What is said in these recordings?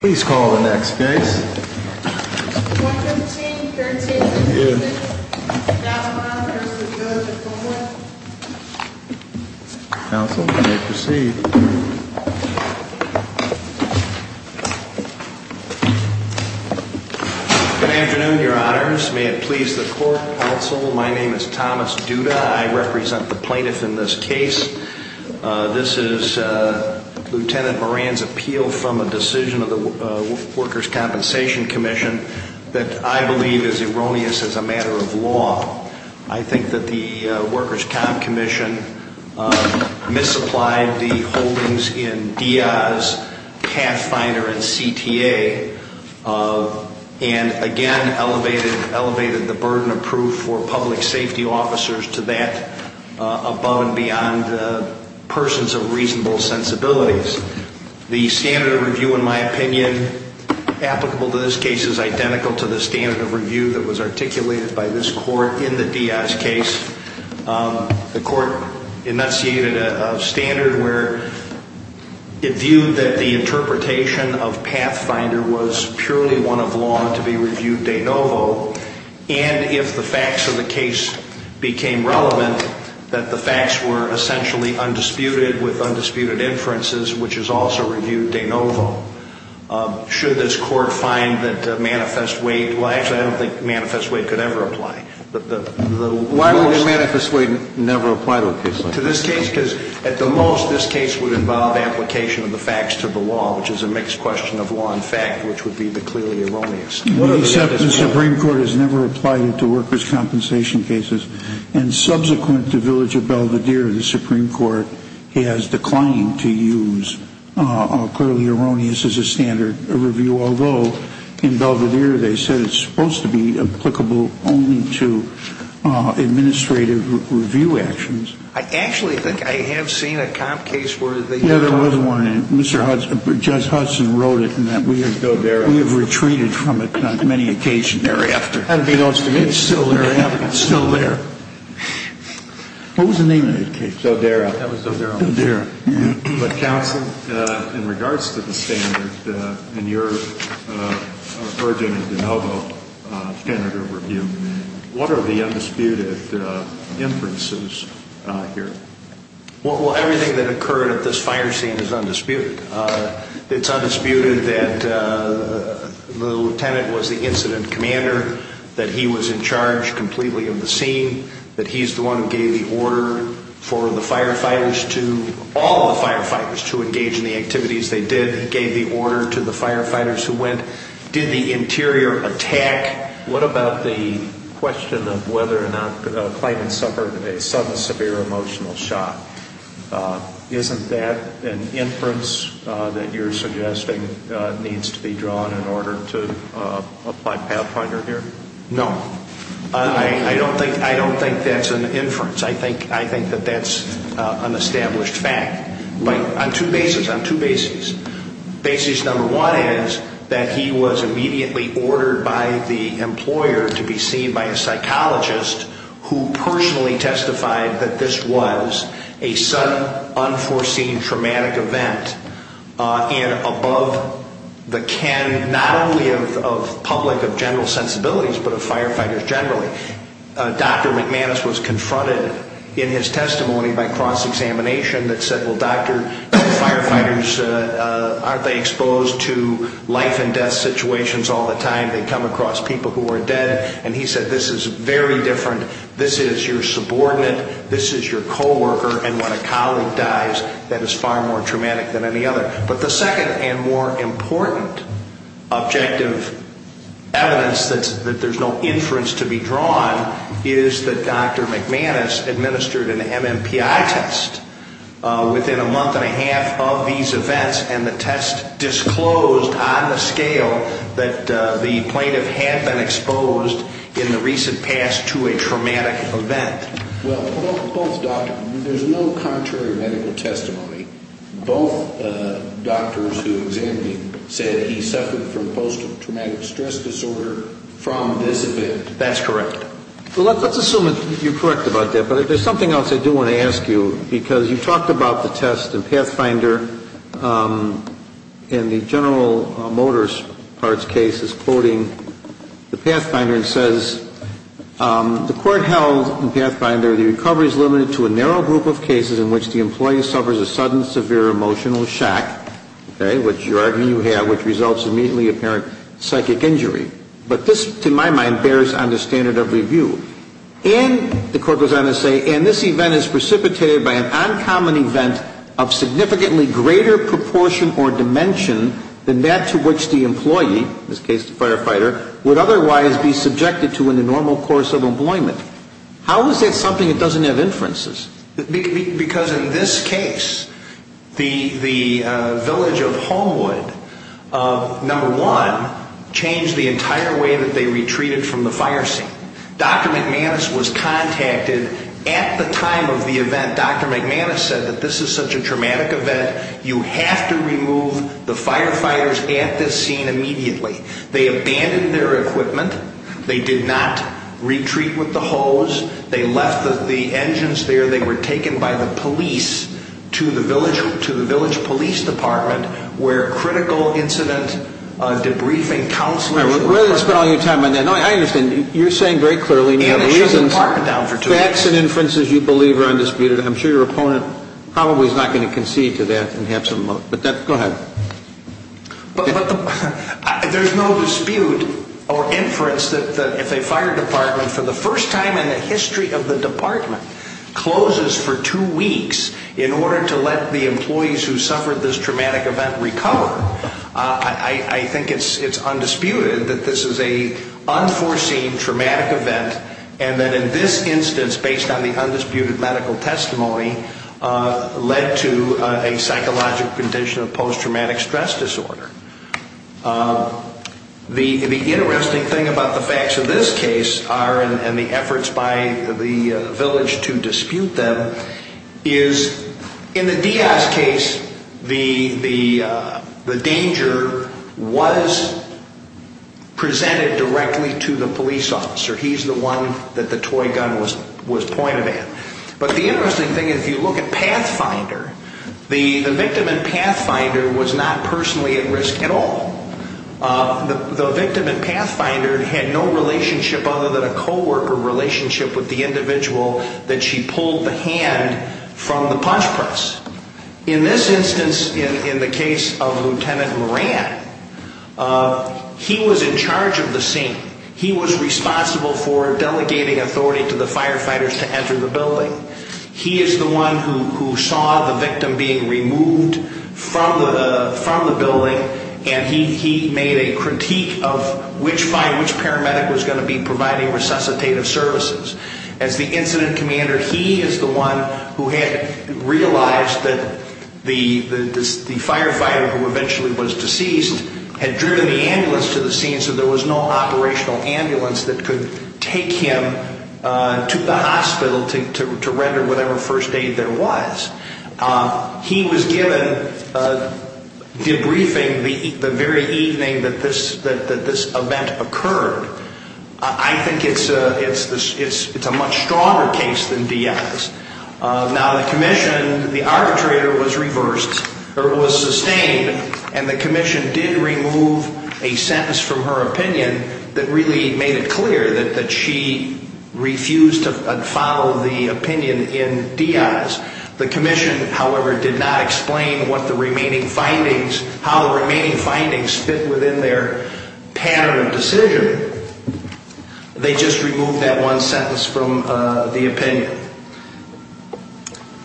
Please call the next case. 215.13. Thank you. Counsel, you may proceed. Good afternoon, your honors. May it please the court. Counsel, my name is Thomas Duda. I represent the plaintiff in this case. This is Lieutenant Moran's decision of the Workers' Compensation Commission that I believe is erroneous as a matter of law. I think that the Workers' Comp Commission misapplied the holdings in Diaz, Pathfinder, and CTA and again elevated the burden of proof for public safety officers to that above and beyond persons of reasonable sensibilities. The standard of review in my opinion applicable to this case is identical to the standard of review that was articulated by this court in the Diaz case. The court enunciated a standard where it viewed that the interpretation of Pathfinder was purely one of law to be reviewed de novo and if the facts of the case became relevant, that the facts were essentially undisputed with undisputed inferences which is also reviewed de novo. Should this court find that Manifest Wade well actually I don't think Manifest Wade could ever apply. Why would Manifest Wade never apply to a case like this? To this case because at the most this case would involve application of the facts to the law which is a mixed question of law and fact which would be the clearly erroneous. The Supreme Court has never applied it to workers' compensation cases and subsequent to the Supreme Court has declined to use clearly erroneous as a standard review although in Belvedere they said it's supposed to be applicable only to administrative review actions. I actually think I have seen a comp case where they judge Hudson wrote it and that we have retreated from it on many occasion thereafter. It's still there. It's still there. What was the name of that case? Zodera. Counsel in regards to the standard in your urgent de novo standard review what are the undisputed inferences here? Well everything that occurred at this fire scene is undisputed. It's undisputed that the lieutenant was the incident commander, that he was in charge completely of the scene, that he's the one who gave the order for the firefighters to all the firefighters to engage in the activities they did. He gave the order to the firefighters who went. Did the interior attack? What about the question of whether or not a claimant suffered a sudden severe emotional shock? Isn't that an inference that you're suggesting needs to be drawn in order to apply pathfinder here? No. I don't think that's an inference. I think that that's an established fact. On two bases. Basis number one is that he was immediately ordered by the employer to be seen by a psychologist who personally testified that this was a sudden unforeseen traumatic event and above the can not only of public, of general sensibilities but of firefighters generally. Dr. McManus was confronted in his testimony by cross-examination that said, well doctor, firefighters aren't they exposed to life and death situations all the time? They come across people who are dead and he said this is very different. This is your subordinate, this is your co-worker, and when a colleague dies, that is far more traumatic than any other. But the second and more important objective evidence that there's no inference to be drawn is that Dr. McManus administered an MMPI test within a month and a half of these events and the test disclosed on the scale that the plaintiff had been exposed in the recent past to a traumatic event. Well, both doctor, there's no contrary medical testimony, both doctors who examined him said he suffered from post-traumatic stress disorder from this event. That's correct. Well, let's assume that you're correct about that, but there's something else I do want to ask you because you talked about the test in Pathfinder and the General Motors Parts case is quoting the Pathfinder and says the court held in Pathfinder the recovery is limited to a narrow group of cases in which the employee suffers a sudden severe emotional shock, okay, which you argue you have, which results in immediately apparent psychic injury. But this, to my mind, bears on the standard of review. And the court goes on to say, and this event is precipitated by an uncommon event of significantly greater proportion or dimension than that to which the employee, in this case the firefighter, would otherwise be subjected to in the normal course of employment. How is that something that doesn't have inferences? Because in this case, the village of Homewood number one changed the entire way that they retreated from the fire scene. Dr. McManus was contacted at the time of the event Dr. McManus said that this is such a traumatic event, you have to remove the firefighters at this scene immediately. They abandoned their equipment, they did not retreat with the hose, they left the engines there, they were taken by the police to the village police department where critical incident debriefing counselors... We're going to spend all your time on that. No, I understand. You're saying very clearly, and you have reasons facts and inferences you believe are undisputed. I'm sure your opponent probably is not going to concede to that and have some... Go ahead. There's no dispute or inference that if a fire department for the first time in the history of the department closes for two weeks in order to let the employees who suffered this traumatic event recover, I think it's undisputed that this is an unforeseen traumatic event and that in this instance, based on the undisputed medical testimony, led to a psychological condition of post-traumatic stress disorder. The interesting thing about the facts of this case are, and the efforts by the village to dispute them, is in the Diaz case, the danger was presented directly to the police officer. He's the one that the toy gun was pointed at. But the interesting thing is if you look at Pathfinder, the victim in Pathfinder was not personally at risk at all. The victim in Pathfinder had no relationship other than a co-worker relationship with the individual that she pulled the hand from the punch press. In this instance, in the case of Lieutenant Moran, he was in charge of the scene. He was responsible for delegating authority to the firefighters to enter the building. He is the one who saw the victim being removed from the building, and he made a critique of which paramedic was going to be providing resuscitative services. As the incident commander, he is the one who had realized that the firefighter who eventually was deceased had driven the ambulance ambulance that could take him to the hospital to render whatever first aid there was. He was given debriefing the very evening that this event occurred. I think it's a much stronger case than Diaz. Now the commission, the arbitrator was reversed, or was sustained, and the commission did remove a sentence from her opinion that really made it clear that she refused to follow the opinion in Diaz. The commission, however, did not explain what the remaining findings how the remaining findings fit within their pattern of decision. They just removed that one sentence from the opinion.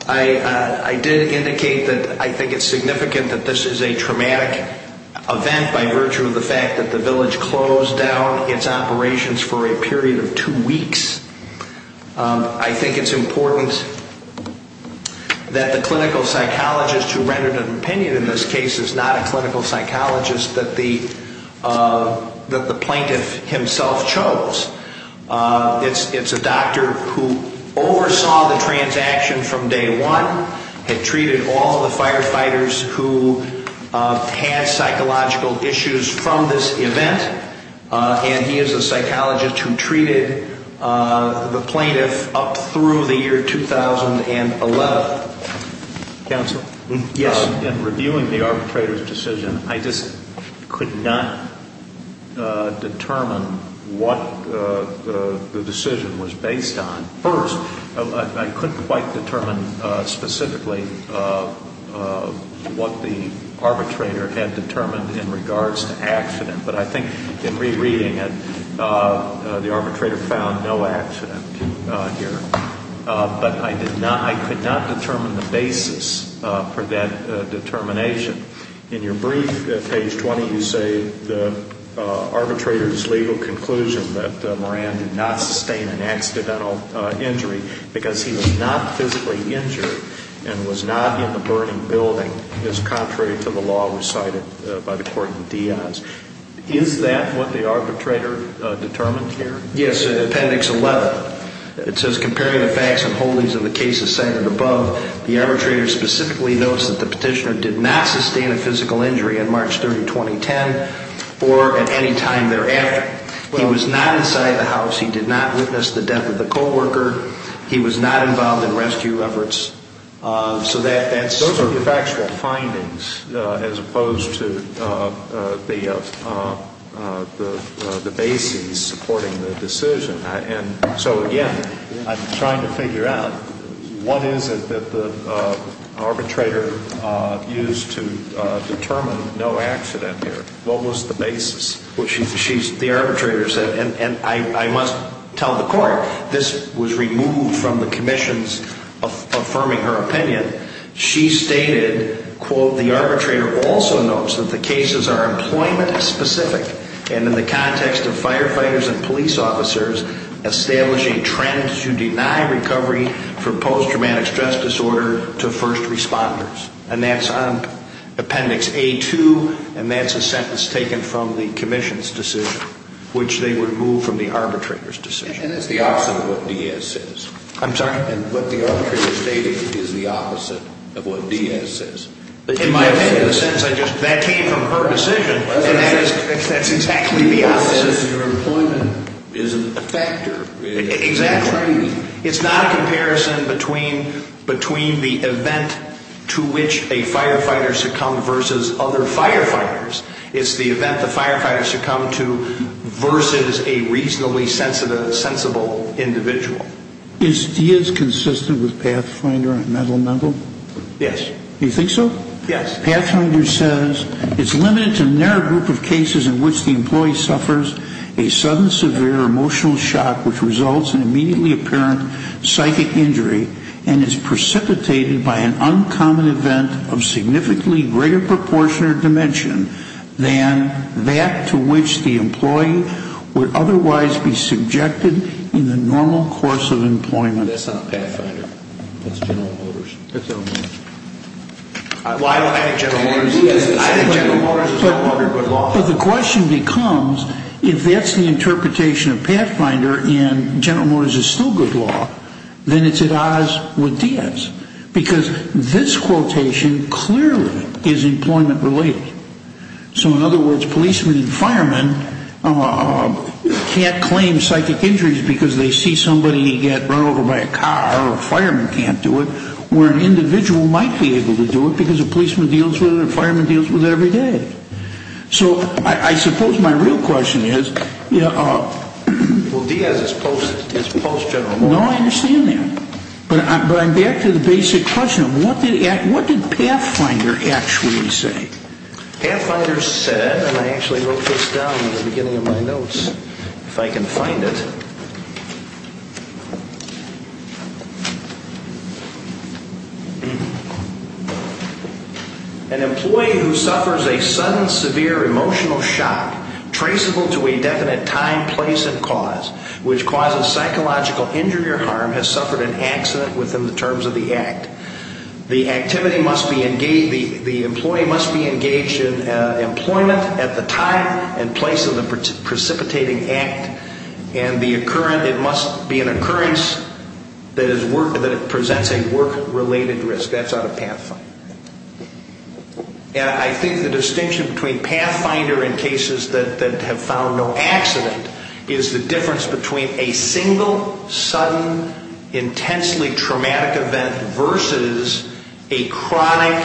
I did indicate that I think it's significant that this is a traumatic event by virtue of the fact that the village closed down its operations for a period of two years. I think it's important that the clinical psychologist who rendered an opinion in this case is not a clinical psychologist that the plaintiff himself chose. It's a doctor who oversaw the transaction from day one, had treated all the firefighters who had psychological issues from this event, and he is a psychologist who treated the plaintiff up through the year 2011. Counsel? Yes. In reviewing the arbitrator's decision, I just could not determine what the decision was based on. First, I couldn't quite determine specifically what the arbitrator had determined in regards to accident, but I think in general the arbitrator found no accident here. But I could not determine the basis for that determination. In your brief at page 20, you say the arbitrator's legal conclusion that Moran did not sustain an accidental injury because he was not physically injured and was not in the burning building is contrary to the law recited by the court in Diaz. Is that what the arbitrator determined here? Yes, in appendix 11. It says, comparing the facts and holdings of the cases cited above, the arbitrator specifically notes that the petitioner did not sustain a physical injury on March 30, 2010, or at any time thereafter. He was not inside the house. He did not witness the death of the co-worker. He was not involved in rescue efforts. Those are factual findings as opposed to any of the basis supporting the decision. So again, I'm trying to figure out what is it that the arbitrator used to determine no accident here? What was the basis? The arbitrator said, and I must tell the court, this was removed from the commissions affirming her opinion. She stated, quote, the arbitrator also notes that the cases are employment specific, and in the context of firefighters and police officers establishing trends to deny recovery for post-traumatic stress disorder to first responders. And that's on appendix A2, and that's a sentence taken from the commissions decision, which they removed from the arbitrator's decision. And it's the opposite of what Diaz says. I'm sorry? What the arbitrator stated is the opposite of what Diaz says. That came from her decision, and that's exactly the opposite. It's not a comparison between the event to which a firefighter succumbed versus other firefighters. It's the event the firefighter succumbed to versus a reasonably sensible individual. Is Diaz consistent with Pathfinder and Metal Metal? Yes. Do you think so? Yes. Pathfinder says it's limited to a narrow group of cases in which the employee suffers a sudden severe emotional shock which results in immediately apparent psychic injury and is precipitated by an uncommon event of significantly greater proportion or dimension than that to which the employee would otherwise be subjected in the normal course of employment. That's not Pathfinder. That's General Motors. I think General Motors is no longer good law. The question becomes if that's the interpretation of Pathfinder and General Motors is still good law, then it's at odds with Diaz because this quotation clearly is employment related. So in other words, policemen and firemen can't claim psychic injuries because they see somebody get run over by a car or a fireman can't do it where an individual might be able to do it because a policeman deals with it or a fireman deals with it every day. So I suppose my real question is Well, Diaz is post-General Motors. No, I understand that. But I'm back to the basic question of what did Pathfinder actually say? Pathfinder said, and I actually wrote this down at the beginning of my notes if I can find it, An employee who suffers a sudden, severe emotional shock traceable to a definite time, place, and cause which causes psychological injury or harm has suffered an accident within the terms of the act. The activity must be engaged, the employee must be engaged in employment at the time and place of the precipitating act and the occurrence, it must be an occurrence that presents a work-related risk. That's out of Pathfinder. And I think the distinction between Pathfinder and cases that have found no accident is the difference between a single, sudden, intensely traumatic event versus a chronic,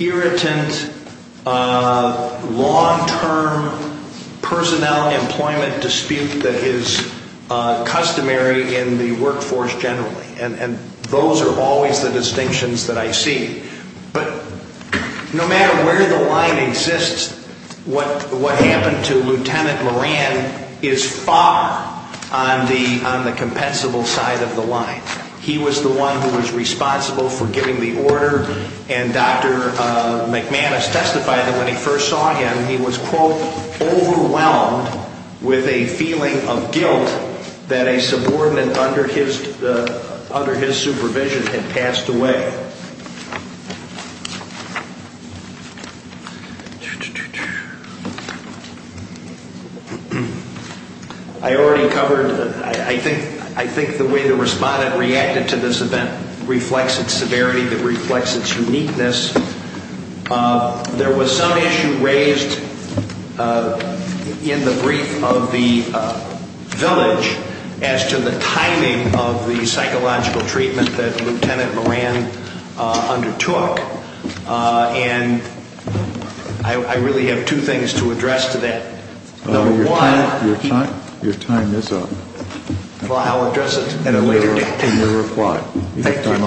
irritant, long-term personnel employment dispute that is customary in the workforce generally. And those are always the distinctions that I see. But no matter where the line exists, what happened to Lieutenant Moran is far on the compensable side of the line. He was the one who was responsible for giving the order and Dr. McManus testified that when he first saw him, he was quote, overwhelmed with a feeling of guilt that a subordinate under his supervision had passed away. I already covered I think the way the respondent reacted to this event reflects its severity, it reflects its uniqueness. There was some issue raised in the brief of the village as to the timing of the psychological treatment that Lieutenant Moran undertook. And I really have two things to address to that. Number one... Your time is up. Well, I'll address it at a later date. In your reply. Thank you.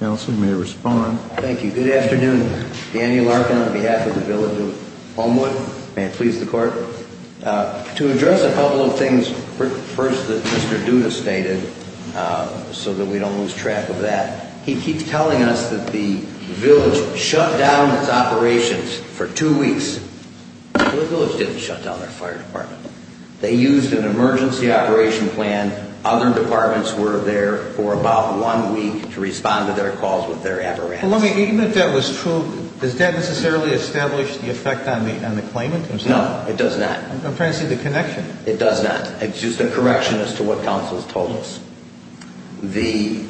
Counsel may respond. Thank you. Good afternoon. Danny Larkin on behalf of the village of Homewood. May it please the court. To address a couple of things first that Mr. Duda stated so that we don't lose track of that. He keeps telling us that the village shut down its operations for two weeks. The village didn't shut down their fire department. They used an emergency operation plan. Other departments were there for about one week to respond to their calls with their apparatus. Even if that was true, does that necessarily establish the effect on the claimant? No, it does not. I'm trying to see the connection. It does not. It's just a correction as to what counsel has told us. The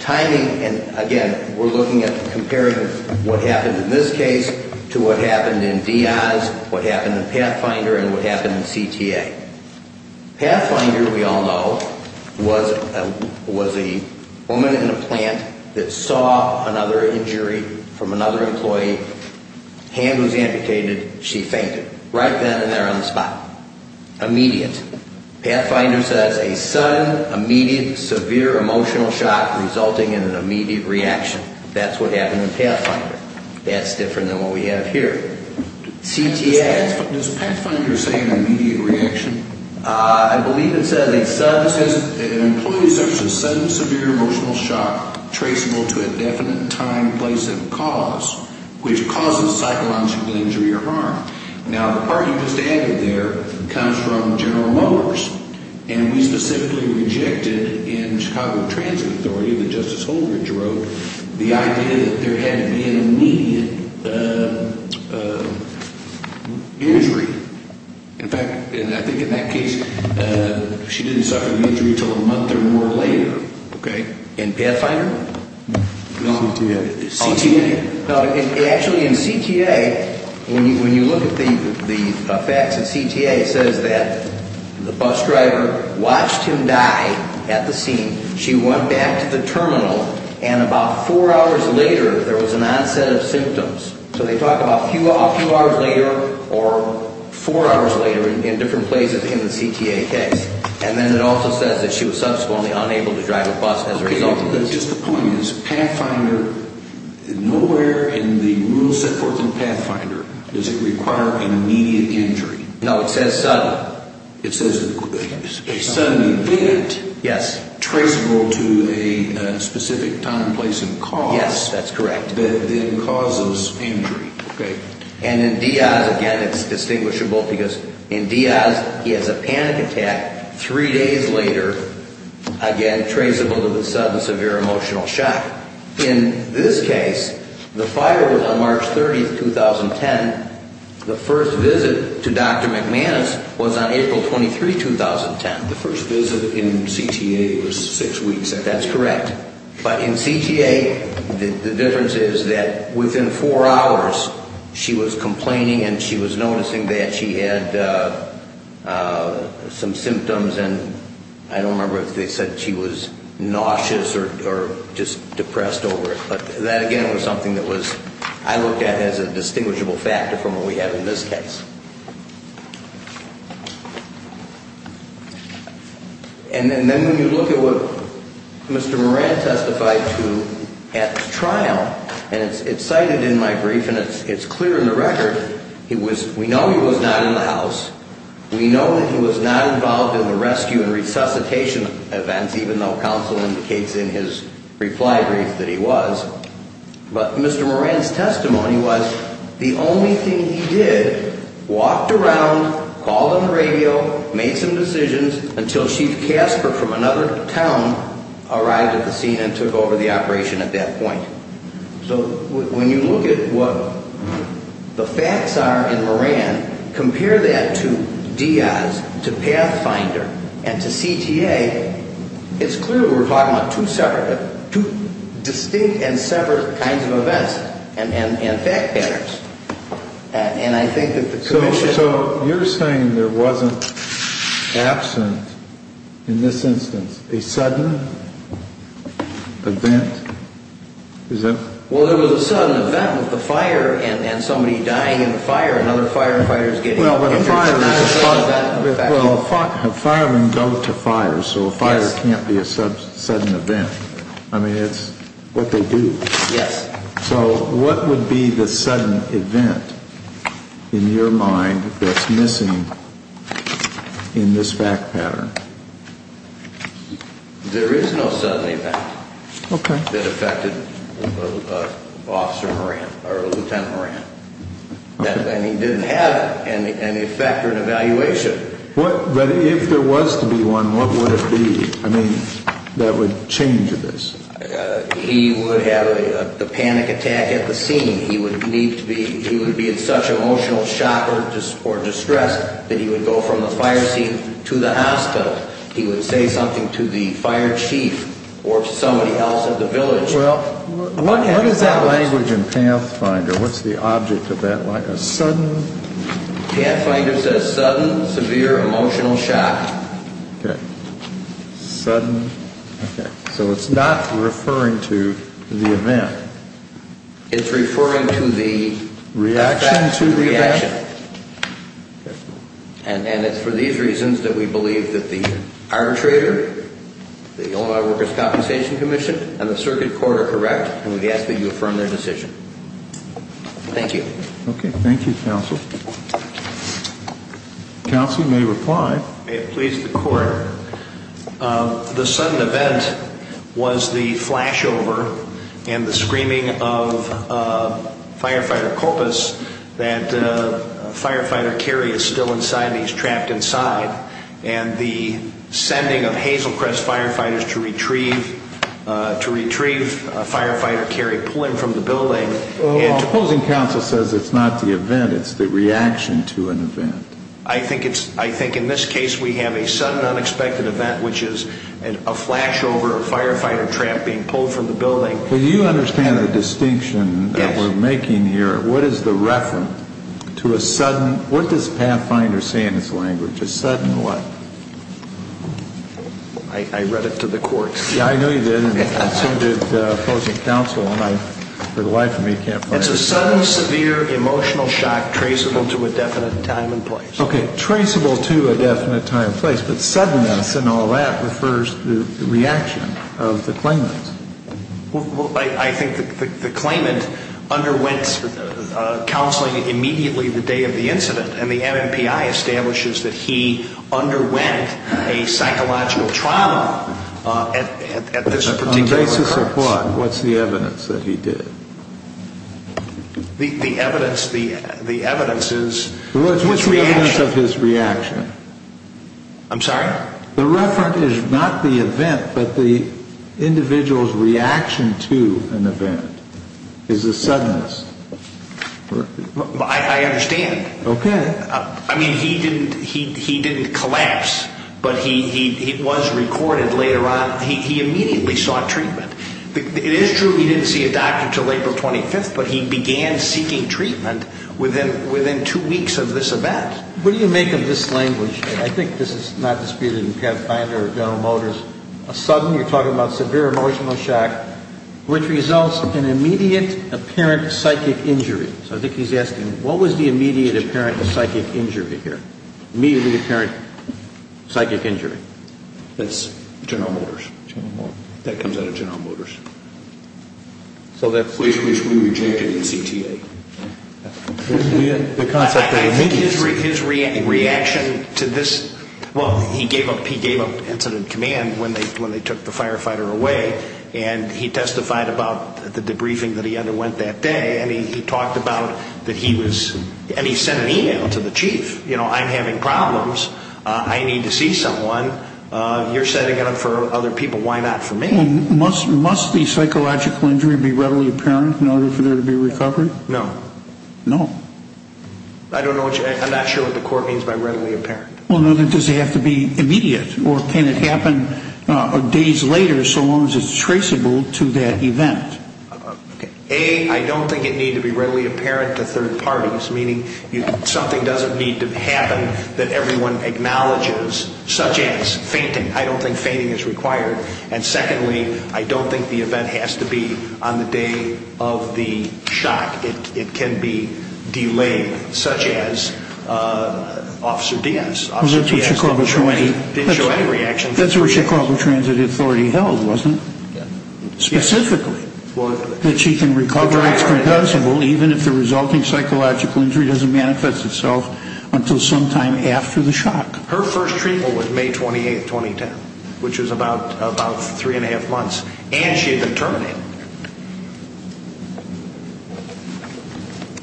timing, and again we're looking at a comparative of what happened in this case to what happened in DI's, what happened in Pathfinder, and what happened in CTA. Pathfinder, we all know, was a woman in a plant that saw another injury from another employee. Hand was amputated. She fainted. Right then and there on the spot. Immediate. Pathfinder says a sudden immediate severe emotional shock resulting in an immediate reaction. That's what happened in Pathfinder. That's different than what we have here. CTA... Does Pathfinder say an immediate reaction? I believe it says an employee suffers a sudden severe emotional shock traceable to a definite time, place and cause, which causes psychological injury or harm. Now, the part you just added there comes from General Motors, and we specifically rejected in Chicago Transit Authority that Justice Holdridge wrote the idea that there had to be an immediate injury. In fact, I think in that case, she didn't suffer an injury until a month or more later. In Pathfinder? CTA. Actually, in CTA, when you look at the facts in CTA, it says that the bus driver watched him die at the scene. She went back to the terminal, and about four hours later, there was an onset of symptoms. So they talk about a few hours later or four hours later in different places in the CTA case. And then it also says that she was subsequently unable to drive a bus as a result of this. Just the point is, Pathfinder, nowhere in the rules set forth in Pathfinder does it require an immediate injury. No, it says sudden. It says a sudden event traceable to a specific time, place and cause that then causes injury. And in Diaz, again, it's distinguishable because in Diaz, he has a panic attack three days later. Again, traceable to the sudden severe emotional shock. In this case, the fire was on March 30, 2010. The first visit to Dr. McManus was on April 23, 2010. The first visit in CTA was six weeks. That's correct. But in CTA, the difference is that within four hours, she was complaining and she was noticing that she had some symptoms and I don't remember if they said she was nauseous or just depressed over it. But that again was something that I looked at as a distinguishable factor from what we have in this case. And then when you look at what happened at trial, and it's cited in my brief and it's clear in the record, we know he was not in the house. We know that he was not involved in the rescue and resuscitation events, even though counsel indicates in his reply brief that he was. But Mr. Moran's testimony was the only thing he did, walked around, called on the radio, made some decisions until Chief Casper from another town arrived at the scene and took over the operation at that point. So when you look at what the facts are in Moran, compare that to Diaz, to Pathfinder, and to CTA, it's clear we're talking about two separate, two distinct and separate kinds of events and fact patterns. And I think that the commission... So you're saying there wasn't absent in this instance a sudden event? Well, there was a sudden event with the fire and somebody dying in the fire and other firefighters getting injured. Well, a fireman goes to fire, so a fire can't be a sudden event. I mean, it's what they do. Yes. So what would be the sudden event in your mind that's missing in this fact pattern? There is no sudden event that affected Officer Moran, or Lieutenant Moran. And he didn't have an effect or an evaluation. But if there was to be one, what would it be, I mean, that would change this? He would have a panic attack at the scene. He would need to be in such emotional shock or distress that he would go from the fire seat to the hospital. He would say something to the fire chief or somebody else at the village. What is that language in Pathfinder? What's the object of that? A sudden... Pathfinder says sudden, severe, emotional shock. Sudden... So it's not referring to the event. It's referring to the reaction to the event. And it's for these reasons that we believe that the arbitrator, the Illinois Workers' Compensation Commission, and the Circuit Court are correct, and we ask that you affirm their decision. Thank you. Okay. Thank you, Counsel. Counsel, you may reply. May it please the Court. The sudden event was the flashover and the screaming of Firefighter Korpus, that Firefighter Cary is still inside and he's trapped inside. And the sending of Hazelcrest Firefighters to retrieve Firefighter Cary pulling from the building. The opposing counsel says it's not the event, it's the reaction to an event. I think in this case we have a sudden unexpected event, which is a flashover of Firefighter Trapp being pulled from the building. Do you understand the distinction that we're making here? Yes. What is the reference to a sudden what does Pathfinder say in its language? A sudden what? I read it to the Court. Yeah, I know you did, and so did opposing counsel, and for the life of me, I can't find it. It's a sudden severe emotional shock traceable to a definite time and place. Okay, traceable to a definite time and place, but suddenness and all that refers to the reaction of the claimant. I think the claimant underwent counseling immediately the day of the incident, and the MMPI establishes that he underwent a psychological trauma at this particular occurrence. On the basis of what? What's the evidence that he did it? The evidence is his reaction. What's the evidence of his reaction? I'm sorry? The reference is not the event, but the individual's reaction to an event. Is the suddenness. I understand. Okay. I mean, he didn't collapse, but he was recorded later on. He immediately sought treatment. It is true he didn't see a doctor until April 25th, but he began seeking treatment within two weeks of this event. What do you make of this language? I think this is not disputed in Penn Finder or General Motors. A sudden, you're talking about severe emotional shock, which results in immediate apparent psychic injury. So I think he's asking, what was the immediate apparent psychic injury here? Immediate apparent psychic injury. That's General Motors. That comes out of General Motors. Please, please, we reject it in CTA. The concept of immediate reaction to this, well, he gave up incident command when they took the firefighter away, and he testified about the debriefing that he underwent that day, and he talked about that he was, and he sent an email to the chief. You know, I'm having problems. I need to see someone. You're setting it up for other people. Why not for me? Must the psychological injury be readily apparent in order for there to be recovery? No. No. I'm not sure what the court means by readily apparent. Well, does it have to be immediate, or can it happen days later, so long as it's traceable to that event? A, I don't think it need to be readily apparent to third parties, meaning something doesn't need to happen that everyone acknowledges, such as fainting. I don't think fainting is required. And secondly, I don't think the event has to be on the day of the shock. It can be delayed, such as Officer Diaz. Officer Diaz didn't show any reaction for three days. That's where Chicago Transit Authority held, wasn't it? Specifically. That she can recover even if the resulting psychological injury doesn't manifest itself until sometime after the shock. Her first treatment was May 28, 2010, which was about three and a half months, and she had terminated.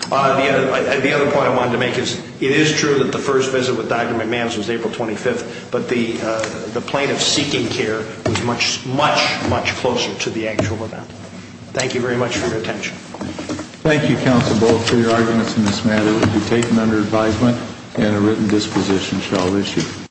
The other point I wanted to make is, it is true that the first visit with Dr. McMahons was April 25th, but the plaintiff's seeking care was much, much, much closer to the actual event. Thank you very much for your attention. Thank you, Counsel Bull, for your arguments in this matter. It will be taken under advisement and a written disposition shall issue.